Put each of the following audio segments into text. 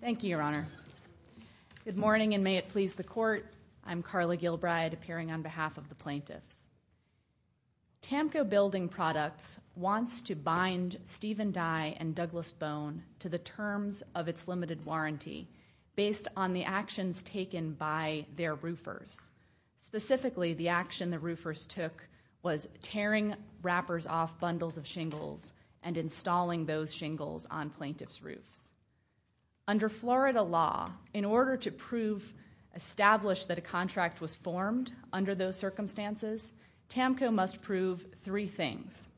Thank you, Your Honor. Good morning, and may it please the Court. I'm Carla Gilbride, appearing on behalf of the plaintiffs. Tamko Building Products wants to bind Stephen Dye and Douglas Bone to the terms of its limited warranty based on the actions taken by their roofers. Specifically, the action the roofers took was tearing wrappers off bundles of shingles and installing those shingles on plaintiffs' roofs. Under Florida law, in order to establish that a contract was formed under those circumstances, Tamko must prove three things.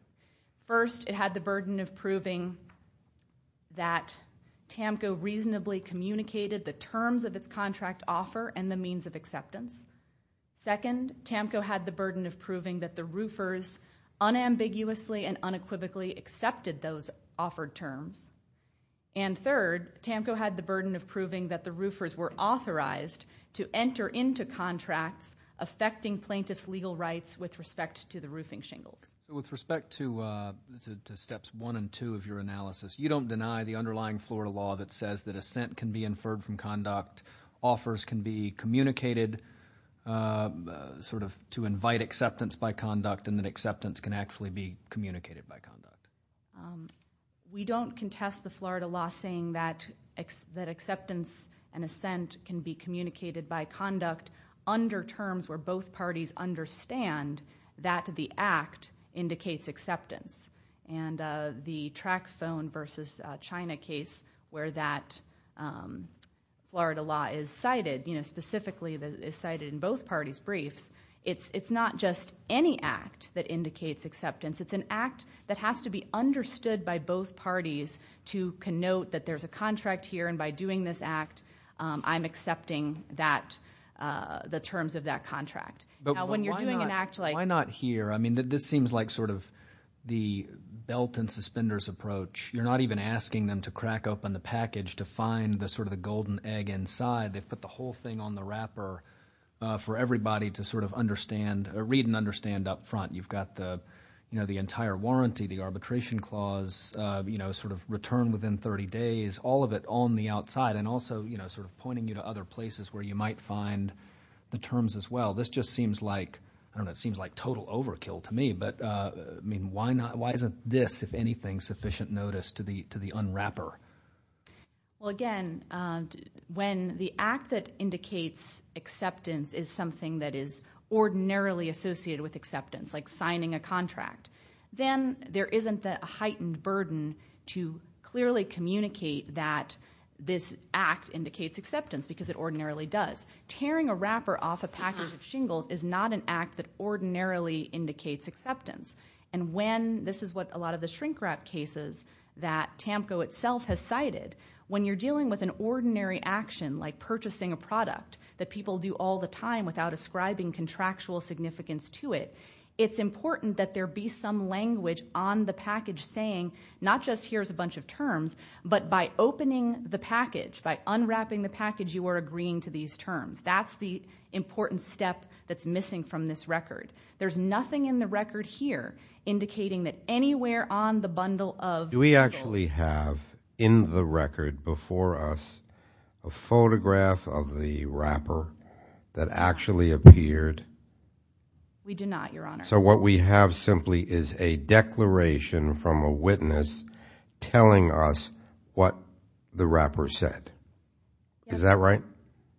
First, it had the burden of proving that Tamko reasonably communicated the terms of its contract offer and the means of acceptance. Second, Tamko had the burden of proving that the roofers unambiguously and unequivocally accepted those offered terms. And third, Tamko had the burden of proving that the roofers were authorized to enter into contracts affecting plaintiffs' legal rights with respect to the roofing shingles. With respect to Steps 1 and 2 of your analysis, you don't deny the underlying Florida law that says that assent can be inferred from conduct, offers can be communicated to invite acceptance by conduct, and that acceptance can actually be communicated by conduct. We don't contest the Florida law saying that acceptance and assent can be communicated by conduct under terms where both parties understand that the act indicates acceptance. And the track phone versus China case where that Florida law is cited, specifically is cited in both parties' briefs, it's not just any act that indicates acceptance. It's an act that has to be understood by both parties to connote that there's a contract here, and by doing this act, I'm accepting the terms of that contract. Now, when you're doing an act like— But why not here? I mean, this seems like sort of the belt-and-suspenders approach. You're not even asking them to crack open the package to find sort of the golden egg inside. They've put the whole thing on the wrapper for everybody to sort of read and understand up front. You've got the entire warranty, the arbitration clause, sort of return within 30 days, all of it on the outside, and also sort of pointing you to other places where you might find the terms as well. This just seems like total overkill to me. But, I mean, why isn't this, if anything, sufficient notice to the unwrapper? Well, again, when the act that indicates acceptance is something that is ordinarily associated with acceptance, like signing a contract, then there isn't the heightened burden to clearly communicate that this act indicates acceptance because it ordinarily does. Tearing a wrapper off a package of shingles is not an act that ordinarily indicates acceptance. And when, this is what a lot of the shrink-wrap cases that TAMCO itself has cited, when you're dealing with an ordinary action like purchasing a product that people do all the time without ascribing contractual significance to it, it's important that there be some language on the package saying not just here's a bunch of terms, but by opening the package, by unwrapping the package, you are agreeing to these terms. That's the important step that's missing from this record. There's nothing in the record here indicating that anywhere on the bundle of shingles... Do we actually have in the record before us a photograph of the wrapper that actually appeared? We do not, Your Honor. So what we have simply is a declaration from a witness telling us what the wrapper said. Is that right?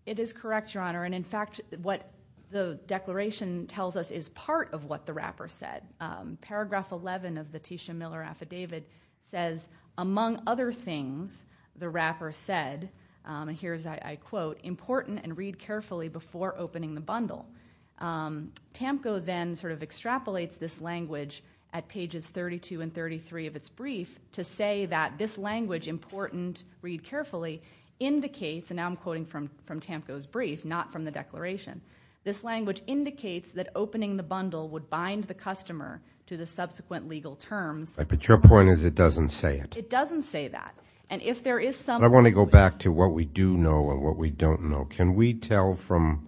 It is correct, Your Honor. And, in fact, what the declaration tells us is part of what the wrapper said. Paragraph 11 of the Tisha Miller Affidavit says, among other things, the wrapper said, and here's I quote, important and read carefully before opening the bundle. TAMCO then sort of extrapolates this language at pages 32 and 33 of its brief to say that this language, important, read carefully, indicates, and now I'm quoting from TAMCO's brief, not from the declaration, this language indicates that opening the bundle would bind the customer to the subsequent legal terms. But your point is it doesn't say it. It doesn't say that. And if there is some... I want to go back to what we do know and what we don't know. Can we tell from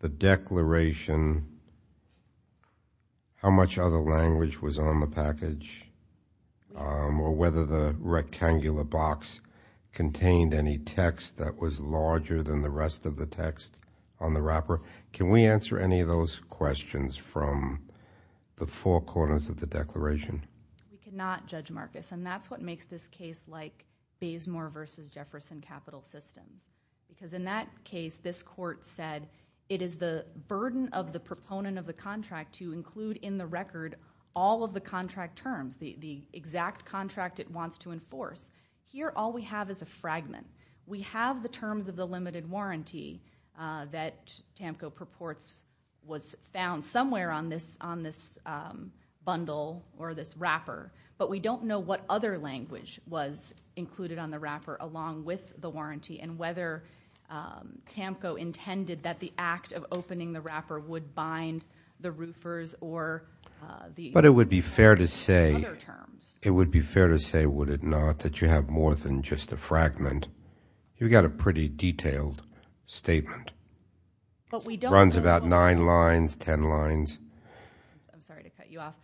the declaration how much other language was on the package or whether the rectangular box contained any text that was larger than the rest of the text on the wrapper? Can we answer any of those questions from the four corners of the declaration? We cannot, Judge Marcus, and that's what makes this case like Bazemore v. Jefferson Capital Systems because in that case this court said it is the burden of the proponent of the contract to include in the record all of the contract terms, the exact contract it wants to enforce. Here all we have is a fragment. We have the terms of the limited warranty that TAMCO purports was found somewhere on this bundle or this wrapper, but we don't know what other language was included on the wrapper along with the warranty and whether TAMCO intended that the act of opening the wrapper would bind the roofers or the other terms. But it would be fair to say, would it not, that you have more than just a fragment? You've got a pretty detailed statement. It runs about nine lines, ten lines. I'm sorry to cut you off.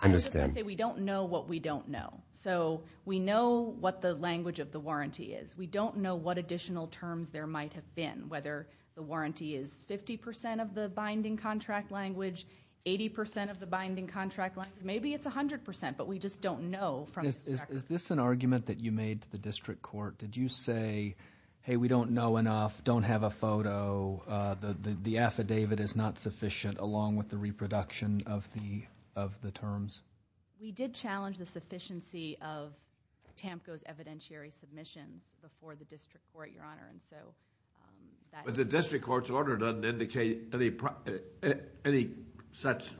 I was going to say we don't know what we don't know. So we know what the language of the warranty is. We don't know what additional terms there might have been, whether the warranty is 50% of the binding contract language, 80% of the binding contract language. Maybe it's 100%, but we just don't know. Is this an argument that you made to the district court? Did you say, hey, we don't know enough, don't have a photo, the affidavit is not sufficient along with the reproduction of the terms? We did challenge the sufficiency of TAMCO's evidentiary submissions before the district court, Your Honor. But the district court's order doesn't indicate any such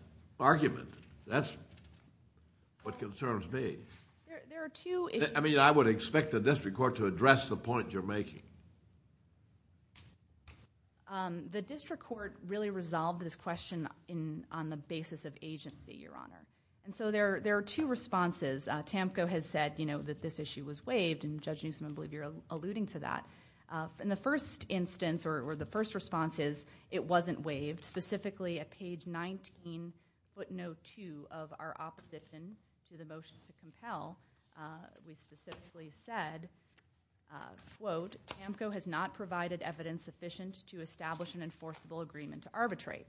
argument. That's what concerns me. I would expect the district court to address the point you're making. The district court really resolved this question on the basis of agency, Your Honor. And so there are two responses. TAMCO has said that this issue was waived, and Judge Newsom, I believe you're alluding to that. And the first instance or the first response is it wasn't waived, specifically at page 19, footnote 2 of our opposition to the motion to compel. We specifically said, quote, TAMCO has not provided evidence sufficient to establish an enforceable agreement to arbitrate.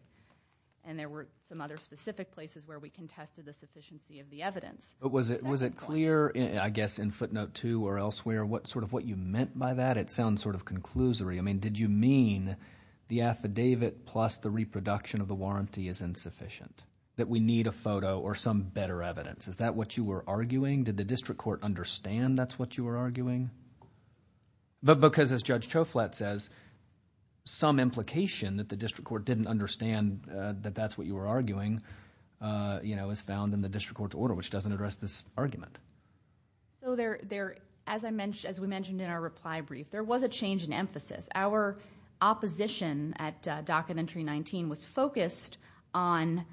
And there were some other specific places where we contested the sufficiency of the evidence. But was it clear, I guess, in footnote 2 or elsewhere, sort of what you meant by that? It sounds sort of conclusory. I mean, did you mean the affidavit plus the reproduction of the warranty is insufficient, that we need a photo or some better evidence? Is that what you were arguing? Did the district court understand that's what you were arguing? But because, as Judge Choflat says, some implication that the district court didn't understand that that's what you were arguing, you know, is found in the district court's order, which doesn't address this argument. So there, as I mentioned, as we mentioned in our reply brief, there was a change in emphasis. Our opposition at docket entry 19 was focused on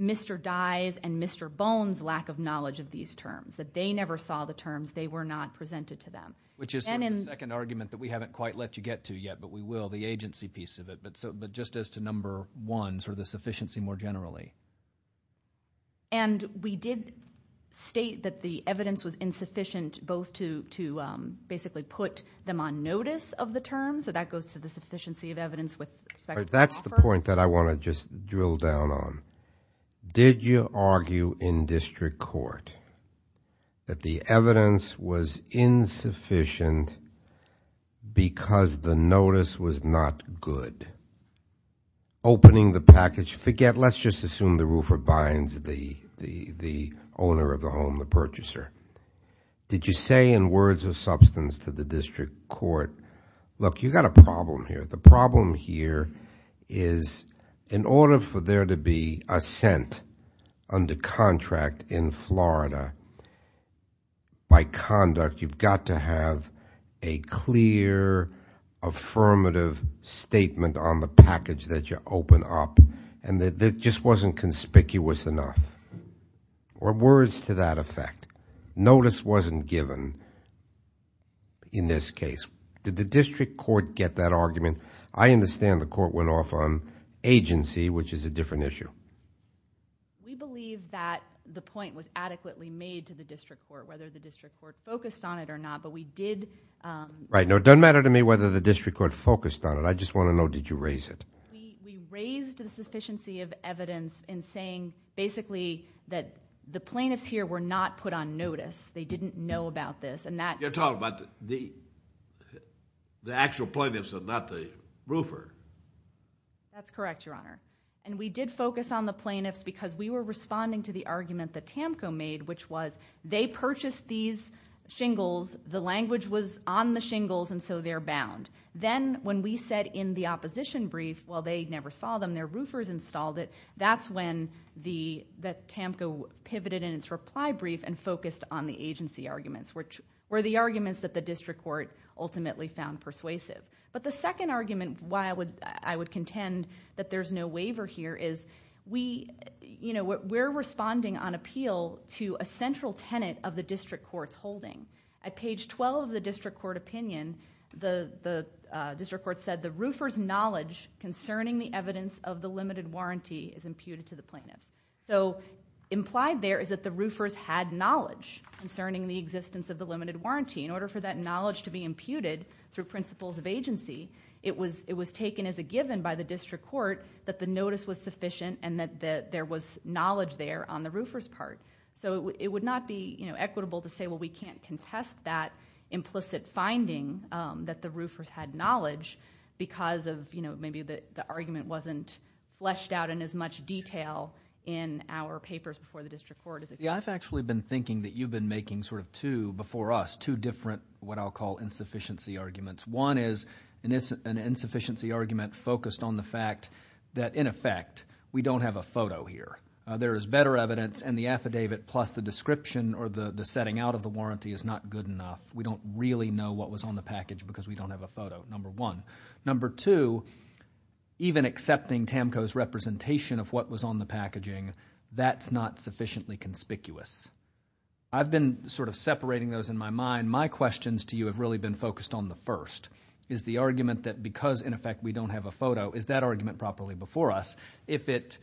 Mr. Dye's and Mr. Bone's lack of knowledge of these terms, that they never saw the terms, they were not presented to them. Which is the second argument that we haven't quite let you get to yet, but we will, the agency piece of it. But just as to number one, sort of the sufficiency more generally. And we did state that the evidence was insufficient both to basically put them on notice of the terms, so that goes to the sufficiency of evidence with respect to the offer. That's the point that I want to just drill down on. Did you argue in district court that the evidence was insufficient because the notice was not good? Opening the package, forget, let's just assume the roofer binds the owner of the home, the purchaser. Did you say in words of substance to the district court, look, you've got a problem here. But the problem here is in order for there to be assent under contract in Florida, by conduct, you've got to have a clear affirmative statement on the package that you open up. And it just wasn't conspicuous enough. Or words to that effect. Notice wasn't given in this case. Did the district court get that argument? I understand the court went off on agency, which is a different issue. We believe that the point was adequately made to the district court, whether the district court focused on it or not. But we did. Right. No, it doesn't matter to me whether the district court focused on it. I just want to know, did you raise it? We raised the sufficiency of evidence in saying basically that the plaintiffs here were not put on notice. They didn't know about this. You're talking about the actual plaintiffs and not the roofer. That's correct, Your Honor. And we did focus on the plaintiffs because we were responding to the argument that Tamko made, which was they purchased these shingles, the language was on the shingles, and so they're bound. Then when we said in the opposition brief, well, they never saw them, their roofers installed it, that's when Tamko pivoted in its reply brief and focused on the agency arguments, which were the arguments that the district court ultimately found persuasive. But the second argument why I would contend that there's no waiver here is we're responding on appeal to a central tenet of the district court's holding. At page 12 of the district court opinion, the district court said the roofer's knowledge concerning the evidence of the limited warranty is imputed to the plaintiffs. Implied there is that the roofers had knowledge concerning the existence of the limited warranty. In order for that knowledge to be imputed through principles of agency, it was taken as a given by the district court that the notice was sufficient and that there was knowledge there on the roofer's part. It would not be equitable to say, well, we can't contest that implicit finding that the roofers had knowledge because maybe the argument wasn't fleshed out in as much detail in our papers before the district court. I've actually been thinking that you've been making sort of two, before us, two different what I'll call insufficiency arguments. One is an insufficiency argument focused on the fact that, in effect, we don't have a photo here. There is better evidence and the affidavit plus the description or the setting out of the warranty is not good enough. We don't really know what was on the package because we don't have a photo, number one. Number two, even accepting TAMCO's representation of what was on the packaging, that's not sufficiently conspicuous. I've been sort of separating those in my mind. My questions to you have really been focused on the first, is the argument that because, in effect, we don't have a photo, is that argument properly before us? If it's,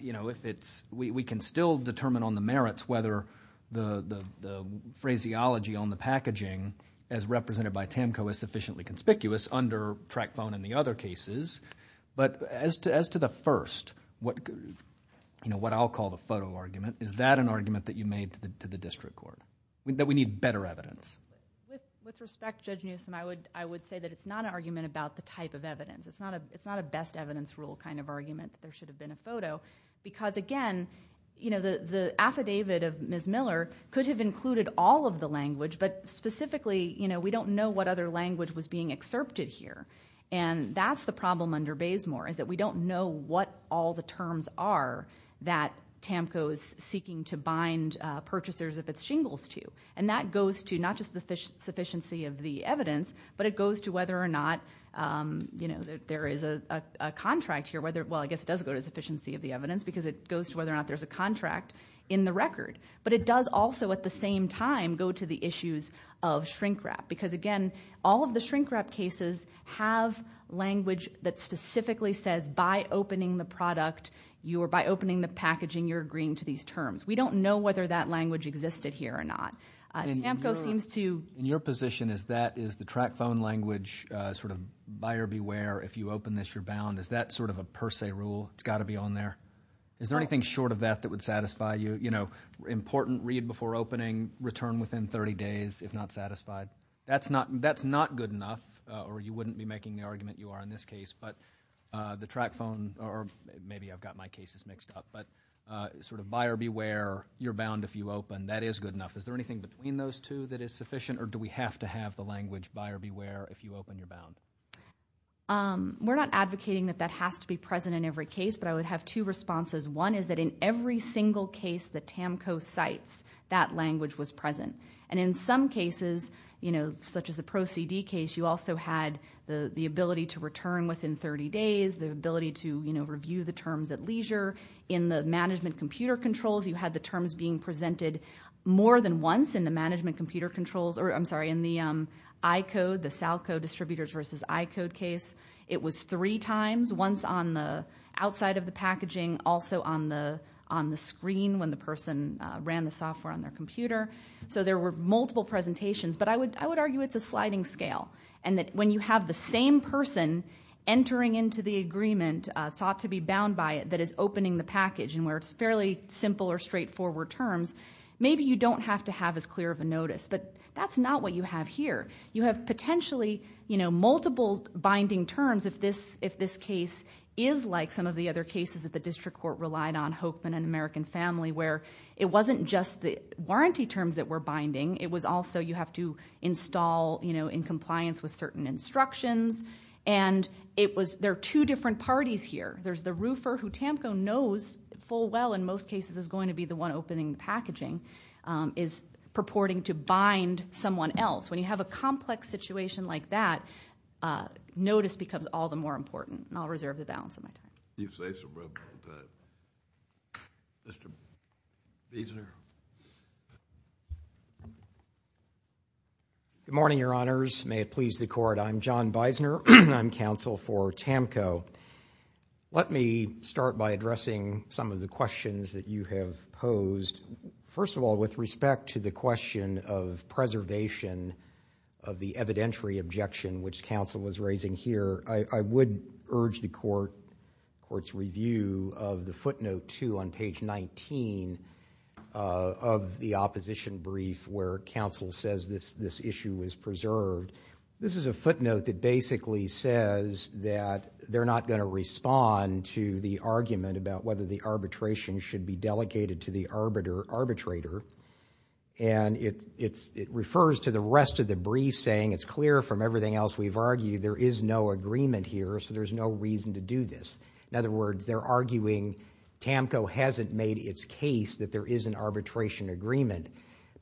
you know, if it's, we can still determine on the merits whether the phraseology on the packaging as represented by TAMCO is sufficiently conspicuous under Tracfone and the other cases, but as to the first, you know, what I'll call the photo argument, is that an argument that you made to the district court? That we need better evidence? With respect, Judge Newsom, I would say that it's not an argument about the type of evidence. It's not a best evidence rule kind of argument that there should have been a photo because, again, you know, the affidavit of Ms. Miller could have included all of the language, but specifically, you know, we don't know what other language was being excerpted here. And that's the problem under Bazemore, is that we don't know what all the terms are that TAMCO is seeking to bind purchasers of its shingles to. And that goes to not just the sufficiency of the evidence, but it goes to whether or not, you know, there is a contract here, whether, well, I guess it does go to the sufficiency of the evidence because it goes to whether or not there's a contract in the record. But it does also, at the same time, go to the issues of shrink-wrap because, again, all of the shrink-wrap cases have language that specifically says, by opening the product or by opening the packaging, you're agreeing to these terms. We don't know whether that language existed here or not. TAMCO seems to... In your position, is the track phone language sort of buyer beware, if you open this, you're bound? Is that sort of a per se rule? It's got to be on there? Is there anything short of that that would satisfy you? You know, important read before opening, return within 30 days if not satisfied. That's not good enough, or you wouldn't be making the argument you are in this case, but the track phone, or maybe I've got my cases mixed up, but sort of buyer beware, you're bound if you open. That is good enough. Is there anything between those two that is sufficient, or do we have to have the language buyer beware if you open, you're bound? We're not advocating that that has to be present in every case, but I would have two responses. One is that in every single case that TAMCO cites, that language was present, and in some cases, you know, such as the ProCD case, you also had the ability to return within 30 days, the ability to review the terms at leisure. In the management computer controls, you had the terms being presented more than once in the management computer controls, or I'm sorry, in the iCode, the SALCO distributors versus iCode case, it was three times, once on the outside of the packaging, also on the screen when the person ran the software on their computer. So there were multiple presentations, but I would argue it's a sliding scale, and that when you have the same person entering into the agreement, sought to be bound by it, that is opening the package, and where it's fairly simple or straightforward terms, maybe you don't have to have as clear of a notice, but that's not what you have here. You have potentially, you know, multiple binding terms if this case is like some of the other cases that the district court relied on, Hokeman and American Family, where it wasn't just the warranty terms that were binding, it was also you have to install, you know, in compliance with certain instructions, and there are two different parties here. There's the roofer, who TAMCO knows full well, in most cases is going to be the one opening the packaging, is purporting to bind someone else. When you have a complex situation like that, notice becomes all the more important, and I'll reserve the balance of my time. You've said so well, but Mr. Beisner. Good morning, Your Honors. May it please the Court. I'm John Beisner. I'm counsel for TAMCO. Let me start by addressing some of the questions that you have posed. First of all, with respect to the question of preservation of the evidentiary objection, which counsel was raising here, I would urge the Court's review of the footnote 2 on page 19 of the opposition brief where counsel says this issue is preserved. This is a footnote that basically says that they're not going to respond to the argument about whether the arbitration should be delegated to the arbitrator, and it refers to the rest of the brief saying it's clear from everything else we've argued there is no agreement here, so there's no reason to do this. In other words, they're arguing TAMCO hasn't made its case that there is an arbitration agreement,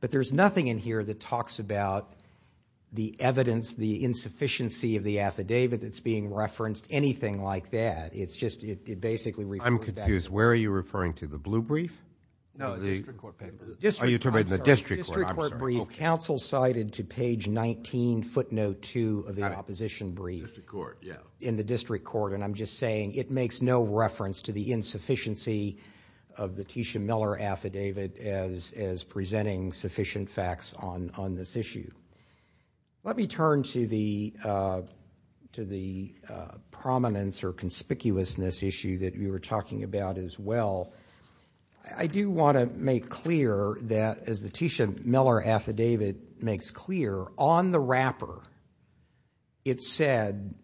but there's nothing in here that talks about the evidence, the insufficiency of the affidavit that's being referenced, anything like that. I'm confused. Where are you referring to? The blue brief? No, the district court paper. Are you referring to the district court? The district court brief counsel cited to page 19, footnote 2, of the opposition brief in the district court, and I'm just saying it makes no reference to the insufficiency of the Tisha Miller affidavit as presenting sufficient facts on this issue. Let me turn to the prominence or conspicuousness issue that we were talking about as well. I do want to make clear that, as the Tisha Miller affidavit makes clear, on the wrapper it said,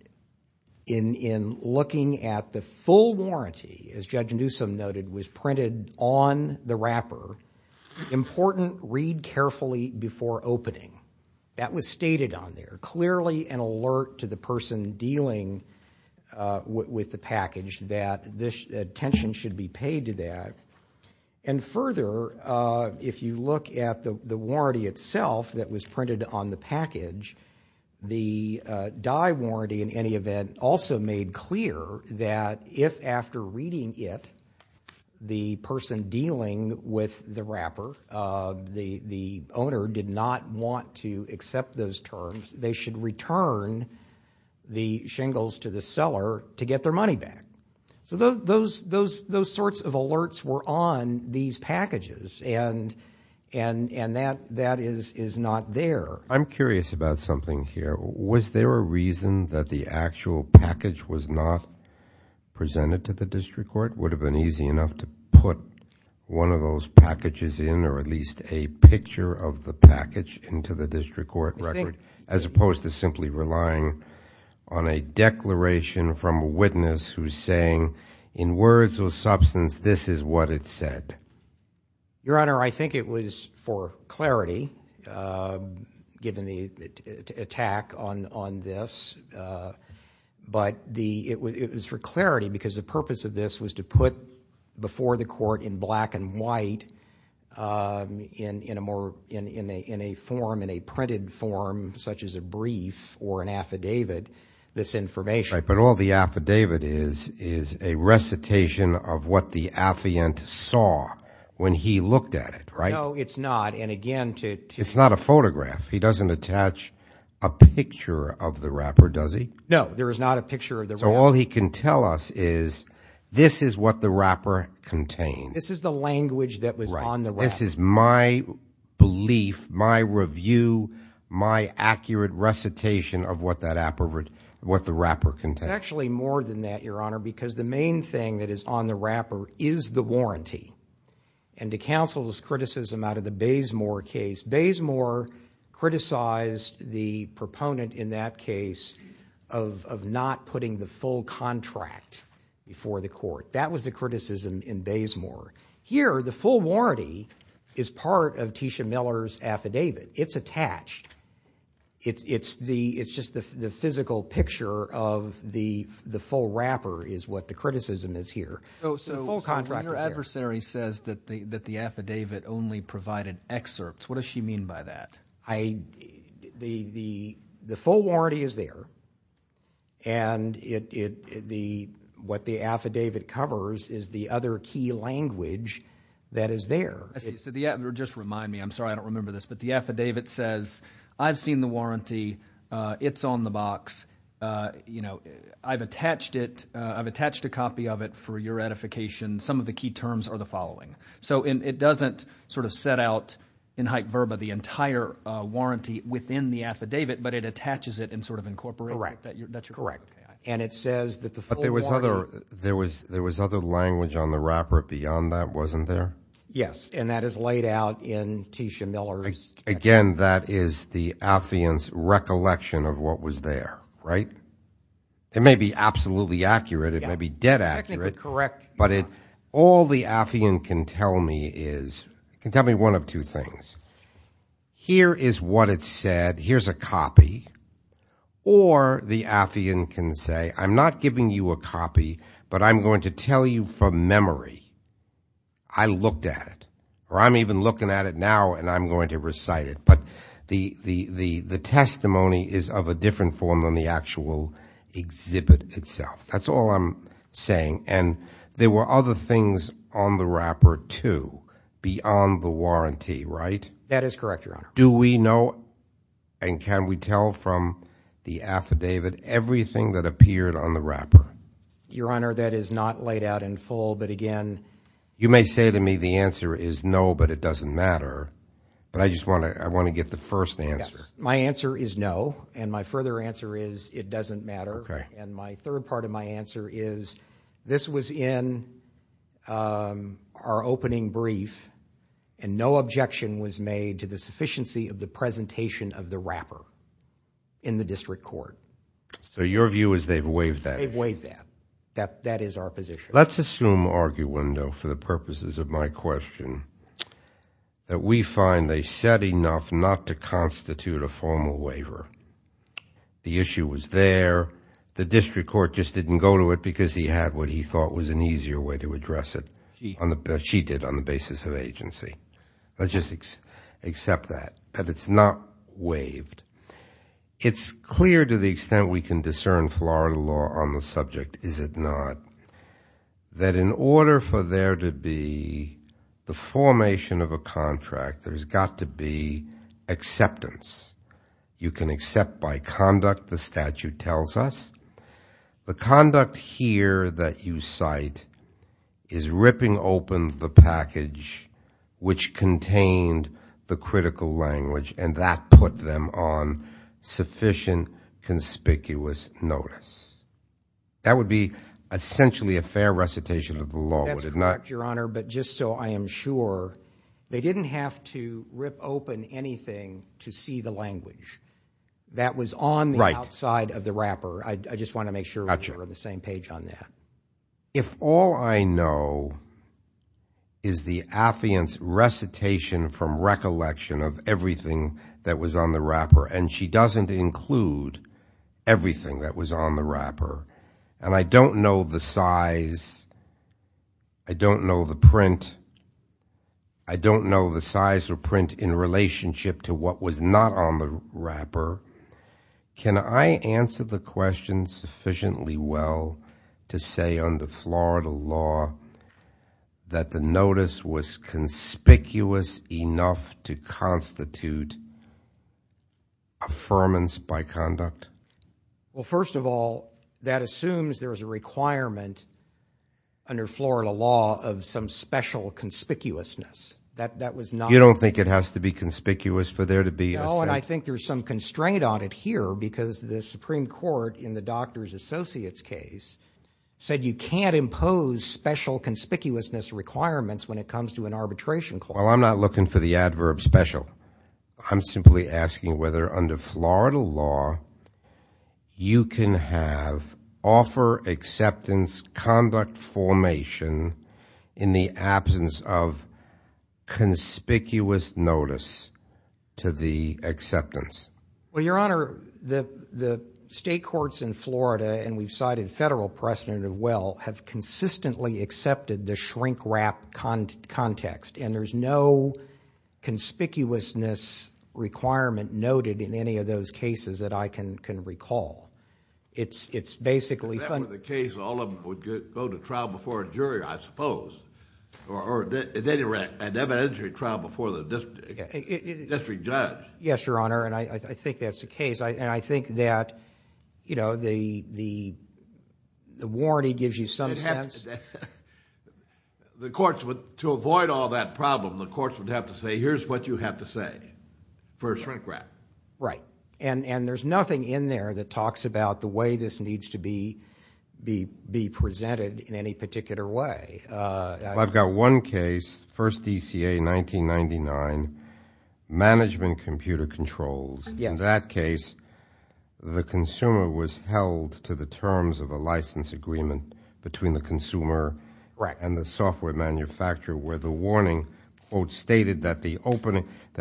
in looking at the full warranty, as Judge Newsom noted, was printed on the wrapper, important read carefully before opening. That was stated on there. Clearly an alert to the person dealing with the package that attention should be paid to that. And further, if you look at the warranty itself that was printed on the package, the die warranty in any event also made clear that if after reading it the person dealing with the wrapper, the owner did not want to accept those terms, they should return the shingles to the seller to get their money back. So those sorts of alerts were on these packages, and that is not there. I'm curious about something here. Was there a reason that the actual package was not presented to the district court? Would it have been easy enough to put one of those packages in or at least a picture of the package into the district court record as opposed to simply relying on a declaration from a witness who's saying in words or substance this is what it said? Your Honor, I think it was for clarity given the attack on this, but it was for clarity because the purpose of this was to put before the court in black and white in a form, in a printed form, such as a brief or an affidavit, this information. Right, but all the affidavit is is a recitation of what the affiant saw when he looked at it, right? No, it's not, and again to... It's not a photograph. He doesn't attach a picture of the wrapper, does he? No, there is not a picture of the wrapper. So all he can tell us is this is what the wrapper contained. This is the language that was on the wrapper. Right, this is my belief, my review, my accurate recitation of what the wrapper contained. It's actually more than that, Your Honor, because the main thing that is on the wrapper is the warranty, and to counsel this criticism out of the Bazemore case, Bazemore criticized the proponent in that case of not putting the full contract before the court. That was the criticism in Bazemore. Here, the full warranty is part of Tisha Miller's affidavit. It's attached. It's just the physical picture of the full wrapper is what the criticism is here. So your adversary says that the affidavit only provided excerpts. What does she mean by that? The full warranty is there, and what the affidavit covers is the other key language that is there. I see. Just remind me. I'm sorry I don't remember this, but the affidavit says, I've seen the warranty. It's on the box. I've attached it. I've attached a copy of it for your ratification. Some of the key terms are the following. So it doesn't sort of set out in hype verba the entire warranty within the affidavit, but it attaches it and sort of incorporates it. Correct. And it says that the full warranty. But there was other language on the wrapper beyond that, wasn't there? Yes, and that is laid out in Tisha Miller's affidavit. of what was there, right? It may be absolutely accurate. It may be dead accurate. Technically correct. But all the affian can tell me is, can tell me one of two things. Here is what it said. Here's a copy. Or the affian can say, I'm not giving you a copy, but I'm going to tell you from memory I looked at it, or I'm even looking at it now and I'm going to recite it. But the testimony is of a different form than the actual exhibit itself. That's all I'm saying. And there were other things on the wrapper, too, beyond the warranty, right? That is correct, Your Honor. Do we know and can we tell from the affidavit everything that appeared on the wrapper? Your Honor, that is not laid out in full, but again. You may say to me the answer is no, but it doesn't matter. But I just want to get the first answer. My answer is no, and my further answer is it doesn't matter. And my third part of my answer is this was in our opening brief and no objection was made to the sufficiency of the presentation of the wrapper in the district court. So your view is they've waived that? They've waived that. That is our position. Let's assume, arguendo, for the purposes of my question, that we find they said enough not to constitute a formal waiver. The issue was there. The district court just didn't go to it because he had what he thought was an easier way to address it. She did on the basis of agency. Let's just accept that, that it's not waived. It's clear to the extent we can discern Florida law on the subject, is it not, that in order for there to be the formation of a contract, there's got to be acceptance. You can accept by conduct the statute tells us. The conduct here that you cite is ripping open the package which contained the critical language, and that put them on sufficient conspicuous notice. That would be essentially a fair recitation of the law, would it not? That's correct, Your Honor, but just so I am sure, they didn't have to rip open anything to see the language. That was on the outside of the wrapper. I just want to make sure we're on the same page on that. If all I know is the affiant's recitation from recollection of everything that was on the wrapper, and she doesn't include everything that was on the wrapper, and I don't know the size, I don't know the print, I don't know the size or print in relationship to what was not on the wrapper, can I answer the question sufficiently well to say under Florida law that the notice was conspicuous enough to constitute affirmance by conduct? Well, first of all, that assumes there's a requirement under Florida law of some special conspicuousness. You don't think it has to be conspicuous for there to be a sentence? Well, and I think there's some constraint on it here because the Supreme Court in the doctor's associate's case said you can't impose special conspicuousness requirements when it comes to an arbitration court. Well, I'm not looking for the adverb special. I'm simply asking whether under Florida law you can have offer, acceptance, conduct formation in the absence of conspicuous notice to the acceptance. Well, Your Honor, the state courts in Florida, and we've cited federal precedent as well, have consistently accepted the shrink wrap context, and there's no conspicuousness requirement noted in any of those cases that I can recall. Except for the case all of them would go to trial before a jury, I suppose, or an evidentiary trial before the district judge. Yes, Your Honor, and I think that's the case, and I think that the warranty gives you some sense. To avoid all that problem, the courts would have to say here's what you have to say for a shrink wrap. Right, and there's nothing in there that talks about the way this needs to be presented in any particular way. Well, I've got one case, first DCA 1999, management computer controls. In that case, the consumer was held to the terms of a license agreement between the consumer and the software manufacturer where the warning stated that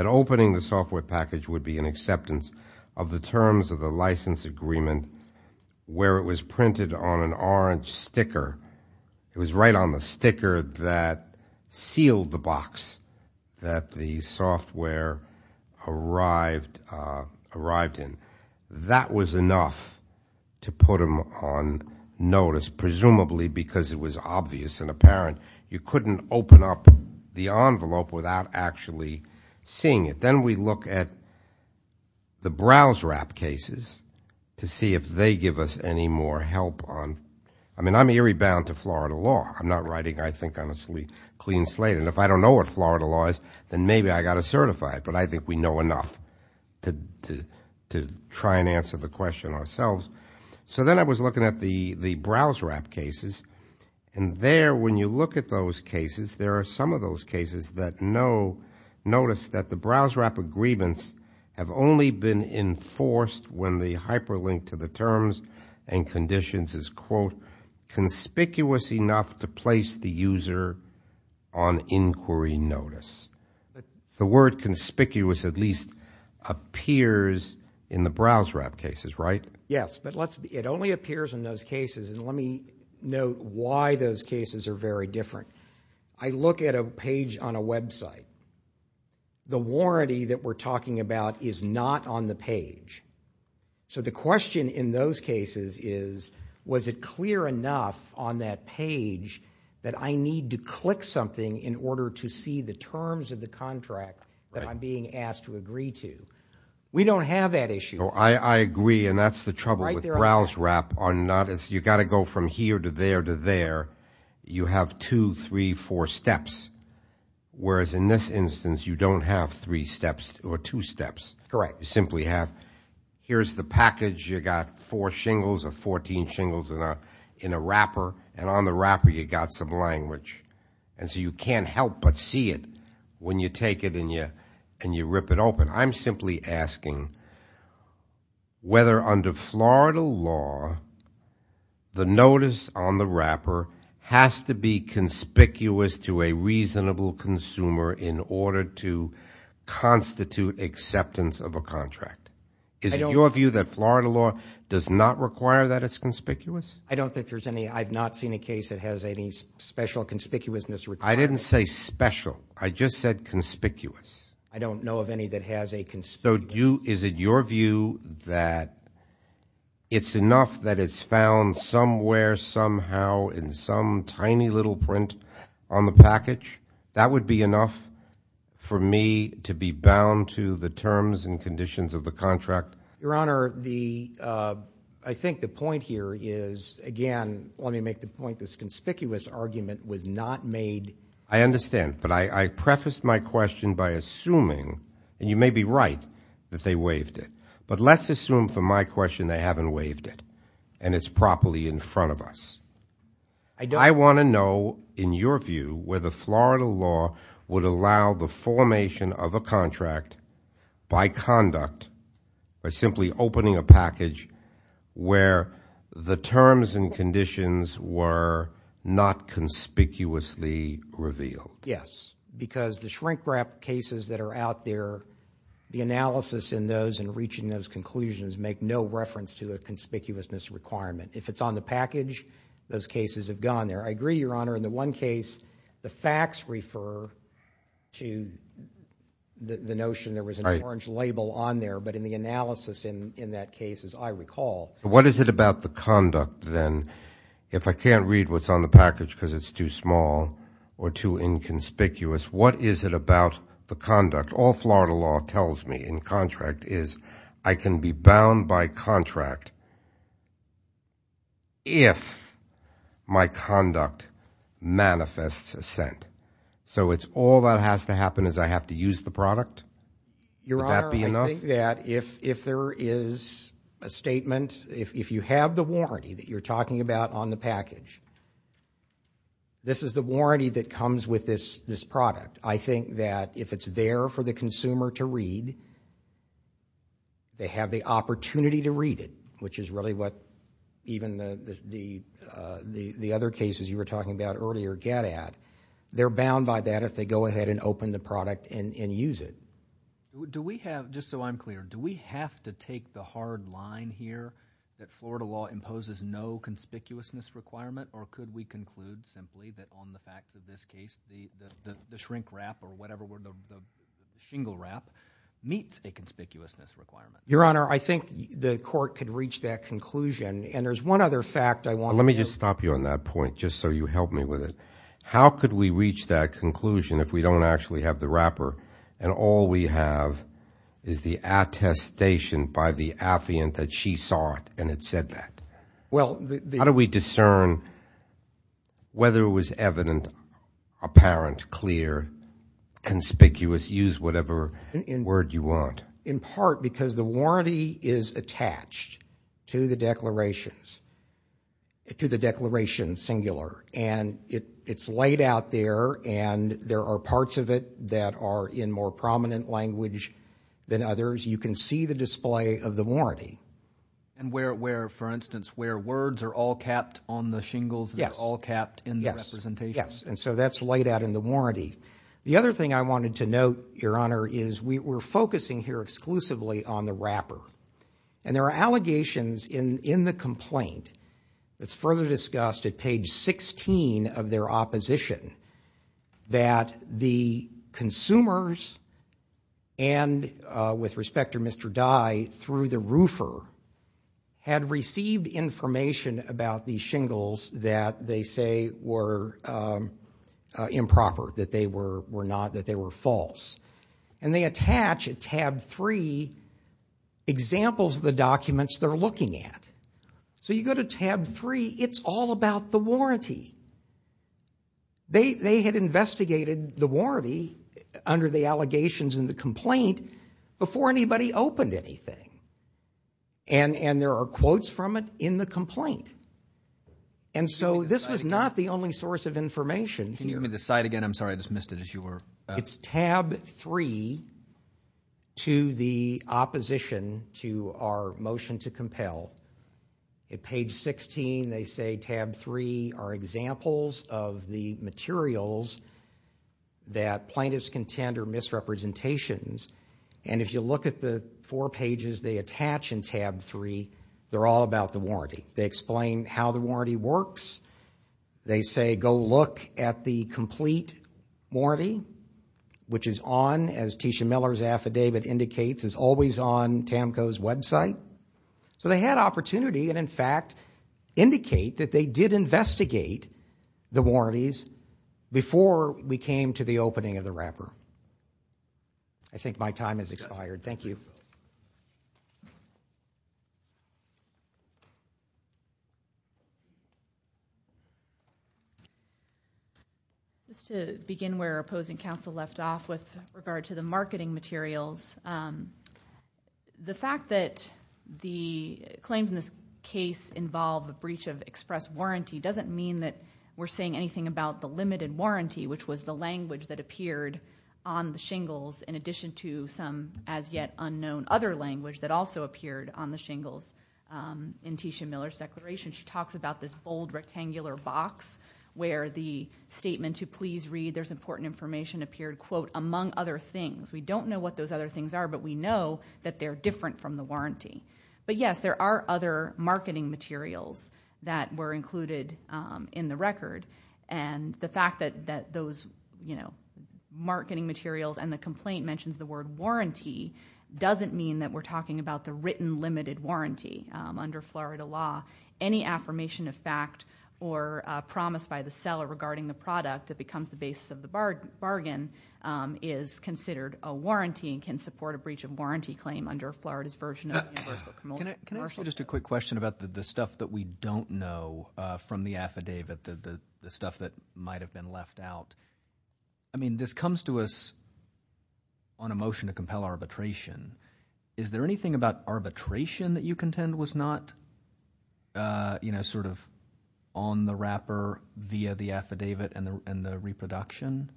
opening the software package would be an acceptance of the terms of the license agreement where it was printed on an orange sticker. It was right on the sticker that sealed the box that the software arrived in. That was enough to put them on notice, presumably because it was obvious and apparent. You couldn't open up the envelope without actually seeing it. Then we look at the browse wrap cases to see if they give us any more help. I mean, I'm eerie bound to Florida law. I'm not writing, I think, on a clean slate, and if I don't know what Florida law is, then maybe I've got to certify it, but I think we know enough to try and answer the question ourselves. So then I was looking at the browse wrap cases, and there, when you look at those cases, there are some of those cases that notice that the browse wrap agreements have only been enforced when the hyperlink to the terms and conditions is, quote, conspicuous enough to place the user on inquiry notice. The word conspicuous at least appears in the browse wrap cases, right? Yes, but it only appears in those cases, and let me note why those cases are very different. I look at a page on a website. The warranty that we're talking about is not on the page. So the question in those cases is, was it clear enough on that page that I need to click something in order to see the terms of the contract that I'm being asked to agree to? We don't have that issue. I agree, and that's the trouble with browse wrap. You've got to go from here to there to there. You have two, three, four steps, whereas in this instance you don't have three steps or two steps. Correct. You simply have, here's the package. You've got four shingles or 14 shingles in a wrapper, and on the wrapper you've got some language. And so you can't help but see it when you take it and you rip it open. I'm simply asking whether under Florida law the notice on the wrapper has to be conspicuous to a reasonable consumer in order to constitute acceptance of a contract. Is it your view that Florida law does not require that it's conspicuous? I don't think there's any. I've not seen a case that has any special conspicuousness required. I didn't say special. I just said conspicuous. I don't know of any that has a conspicuous. So is it your view that it's enough that it's found somewhere, somehow, in some tiny little print on the package? That would be enough for me to be bound to the terms and conditions of the contract? Your Honor, I think the point here is, again, let me make the point this conspicuous argument was not made. I understand, but I prefaced my question by assuming, and you may be right, that they waived it. But let's assume for my question they haven't waived it and it's properly in front of us. I want to know, in your view, whether Florida law would allow the formation of a contract by conduct, by simply opening a package where the terms and conditions were not conspicuously revealed? Yes, because the shrink-wrap cases that are out there, the analysis in those and reaching those conclusions make no reference to a conspicuousness requirement. If it's on the package, those cases have gone there. I agree, Your Honor, in the one case the facts refer to the notion there was an orange label on there. But in the analysis in that case, as I recall. What is it about the conduct, then, if I can't read what's on the package because it's too small or too inconspicuous, what is it about the conduct? What all Florida law tells me in contract is I can be bound by contract if my conduct manifests assent. So it's all that has to happen is I have to use the product? Would that be enough? Your Honor, I think that if there is a statement, if you have the warranty that you're talking about on the package, this is the warranty that comes with this product. I think that if it's there for the consumer to read, they have the opportunity to read it, which is really what even the other cases you were talking about earlier get at. They're bound by that if they go ahead and open the product and use it. Do we have, just so I'm clear, do we have to take the hard line here that Florida law imposes no conspicuousness requirement? Or could we conclude simply that on the facts of this case the shrink wrap or whatever the shingle wrap meets a conspicuousness requirement? Your Honor, I think the court could reach that conclusion, and there's one other fact I want to make. Let me just stop you on that point just so you help me with it. How could we reach that conclusion if we don't actually have the wrapper and all we have is the attestation by the affiant that she saw it and had said that? How do we discern whether it was evident, apparent, clear, conspicuous, use whatever word you want? In part because the warranty is attached to the declarations, to the declaration singular, and it's laid out there and there are parts of it that are in more prominent language than others. You can see the display of the warranty. And where, for instance, where words are all capped on the shingles and they're all capped in the representation? Yes, and so that's laid out in the warranty. The other thing I wanted to note, Your Honor, is we're focusing here exclusively on the wrapper, and there are allegations in the complaint that's further discussed at page 16 of their opposition that the consumers and, with respect to Mr. Dye, through the roofer, had received information about these shingles that they say were improper, that they were not, that they were false. And they attach at tab three examples of the documents they're looking at. So you go to tab three. It's all about the warranty. They had investigated the warranty under the allegations in the complaint before anybody opened anything, and there are quotes from it in the complaint. And so this was not the only source of information. Can you give me the site again? I'm sorry. I just missed it as you were. It's tab three to the opposition to our motion to compel. At page 16, they say tab three are examples of the materials that plaintiffs contend are misrepresentations. And if you look at the four pages they attach in tab three, they're all about the warranty. They explain how the warranty works. They say go look at the complete warranty, which is on, as Tisha Miller's affidavit indicates, is always on TAMCO's website. So they had opportunity and, in fact, indicate that they did investigate the warranties before we came to the opening of the wrapper. I think my time has expired. Thank you. Just to begin where opposing counsel left off with regard to the marketing materials, the fact that the claims in this case involve a breach of express warranty doesn't mean that we're saying anything about the limited warranty, which was the language that appeared on the shingles in addition to some as-yet-unknown other language that also appeared on the shingles in Tisha Miller's declaration. She talks about this bold rectangular box where the statement, to please read there's important information, appeared, quote, among other things. We don't know what those other things are, but we know that they're different from the warranty. But, yes, there are other marketing materials that were included in the record. And the fact that those marketing materials and the complaint mentions the word warranty doesn't mean that we're talking about the written limited warranty under Florida law. Any affirmation of fact or promise by the seller regarding the product that becomes the basis of the bargain is considered a warranty and can support a breach of warranty claim under Florida's version of universal commercial. Can I ask you just a quick question about the stuff that we don't know from the affidavit, the stuff that might have been left out? I mean this comes to us on a motion to compel arbitration. Is there anything about arbitration that you contend was not, you know, sort of on the wrapper via the affidavit and the reproduction?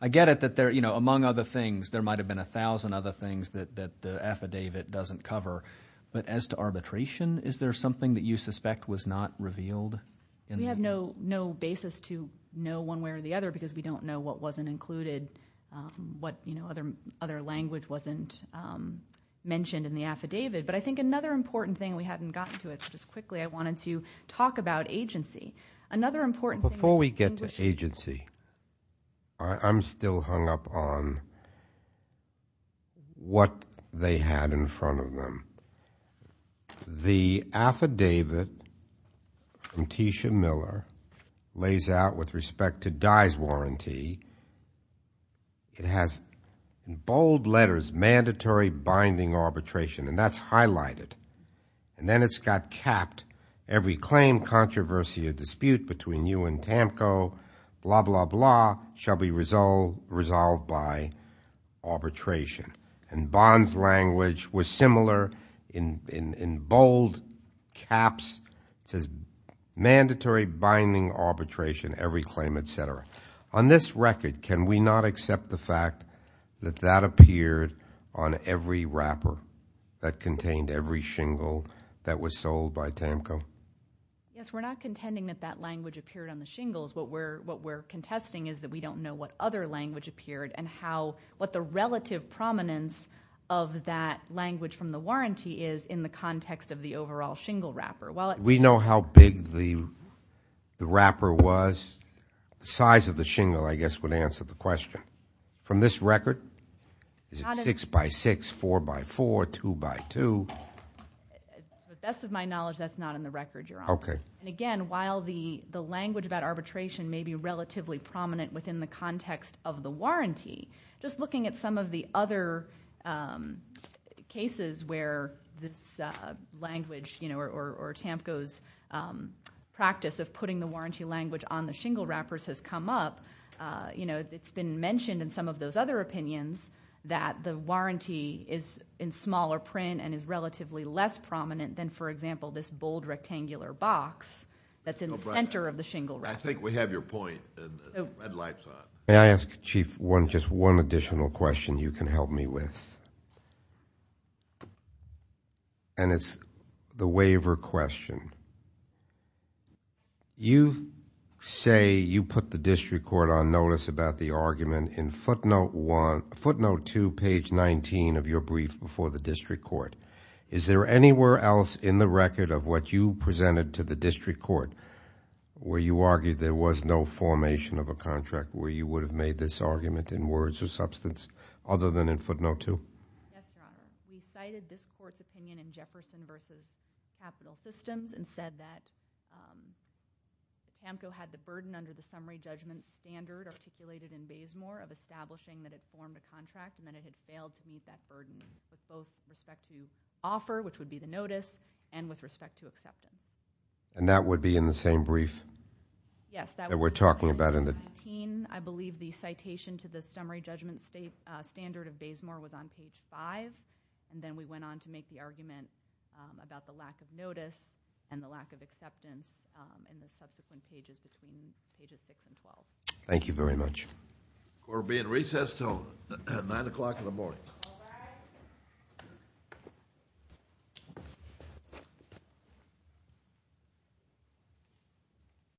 I get it that there, you know, among other things, there might have been a thousand other things that the affidavit doesn't cover. But as to arbitration, is there something that you suspect was not revealed? We have no basis to know one way or the other because we don't know what wasn't included, what, you know, other language wasn't mentioned in the affidavit. But I think another important thing, we haven't gotten to it so just quickly, I wanted to talk about agency. Another important thing that distinguishes… Before we get to agency, I'm still hung up on what they had in front of them. The affidavit from Tisha Miller lays out with respect to Dye's warranty. It has bold letters, mandatory binding arbitration, and that's highlighted. And then it's got capped, every claim, controversy, or dispute between you and TAMCO, blah, blah, blah, shall be resolved by arbitration. And Bond's language was similar in bold caps. It says mandatory binding arbitration, every claim, et cetera. On this record, can we not accept the fact that that appeared on every wrapper that contained every shingle that was sold by TAMCO? Yes, we're not contending that that language appeared on the shingles. What we're contesting is that we don't know what other language appeared and what the relative prominence of that language from the warranty is in the context of the overall shingle wrapper. We know how big the wrapper was. The size of the shingle, I guess, would answer the question. From this record, is it 6x6, 4x4, 2x2? To the best of my knowledge, that's not in the record, Your Honor. And again, while the language about arbitration may be relatively prominent within the context of the warranty, just looking at some of the other cases where this language or TAMCO's practice of putting the warranty language on the shingle wrappers has come up, it's been mentioned in some of those other opinions that the warranty is in smaller print and is relatively less prominent than, for example, this bold rectangular box that's in the center of the shingle wrapper. I think we have your point, Ed Lifeson. May I ask, Chief, just one additional question you can help me with? It's the waiver question. You say you put the district court on notice about the argument in footnote 2, page 19 of your brief before the district court. Is there anywhere else in the record of what you presented to the district court where you argued there was no formation of a contract where you would have made this argument in words or substance other than in footnote 2? Yes, Your Honor. We cited this court's opinion in Jefferson v. Capital Systems and said that TAMCO had the burden under the summary judgment standard articulated in Bazemore of establishing that it formed a contract and that it had failed to meet that burden with both respect to offer, which would be the notice, and with respect to acceptance. And that would be in the same brief that we're talking about in the... Yes, that would be page 19. I believe the citation to the summary judgment standard of Bazemore was on page 5, and then we went on to make the argument about the lack of notice and the lack of acceptance in the subsequent pages between pages 6 and 12. Thank you very much. Court will be in recess until 9 o'clock in the morning. All rise. Thank you.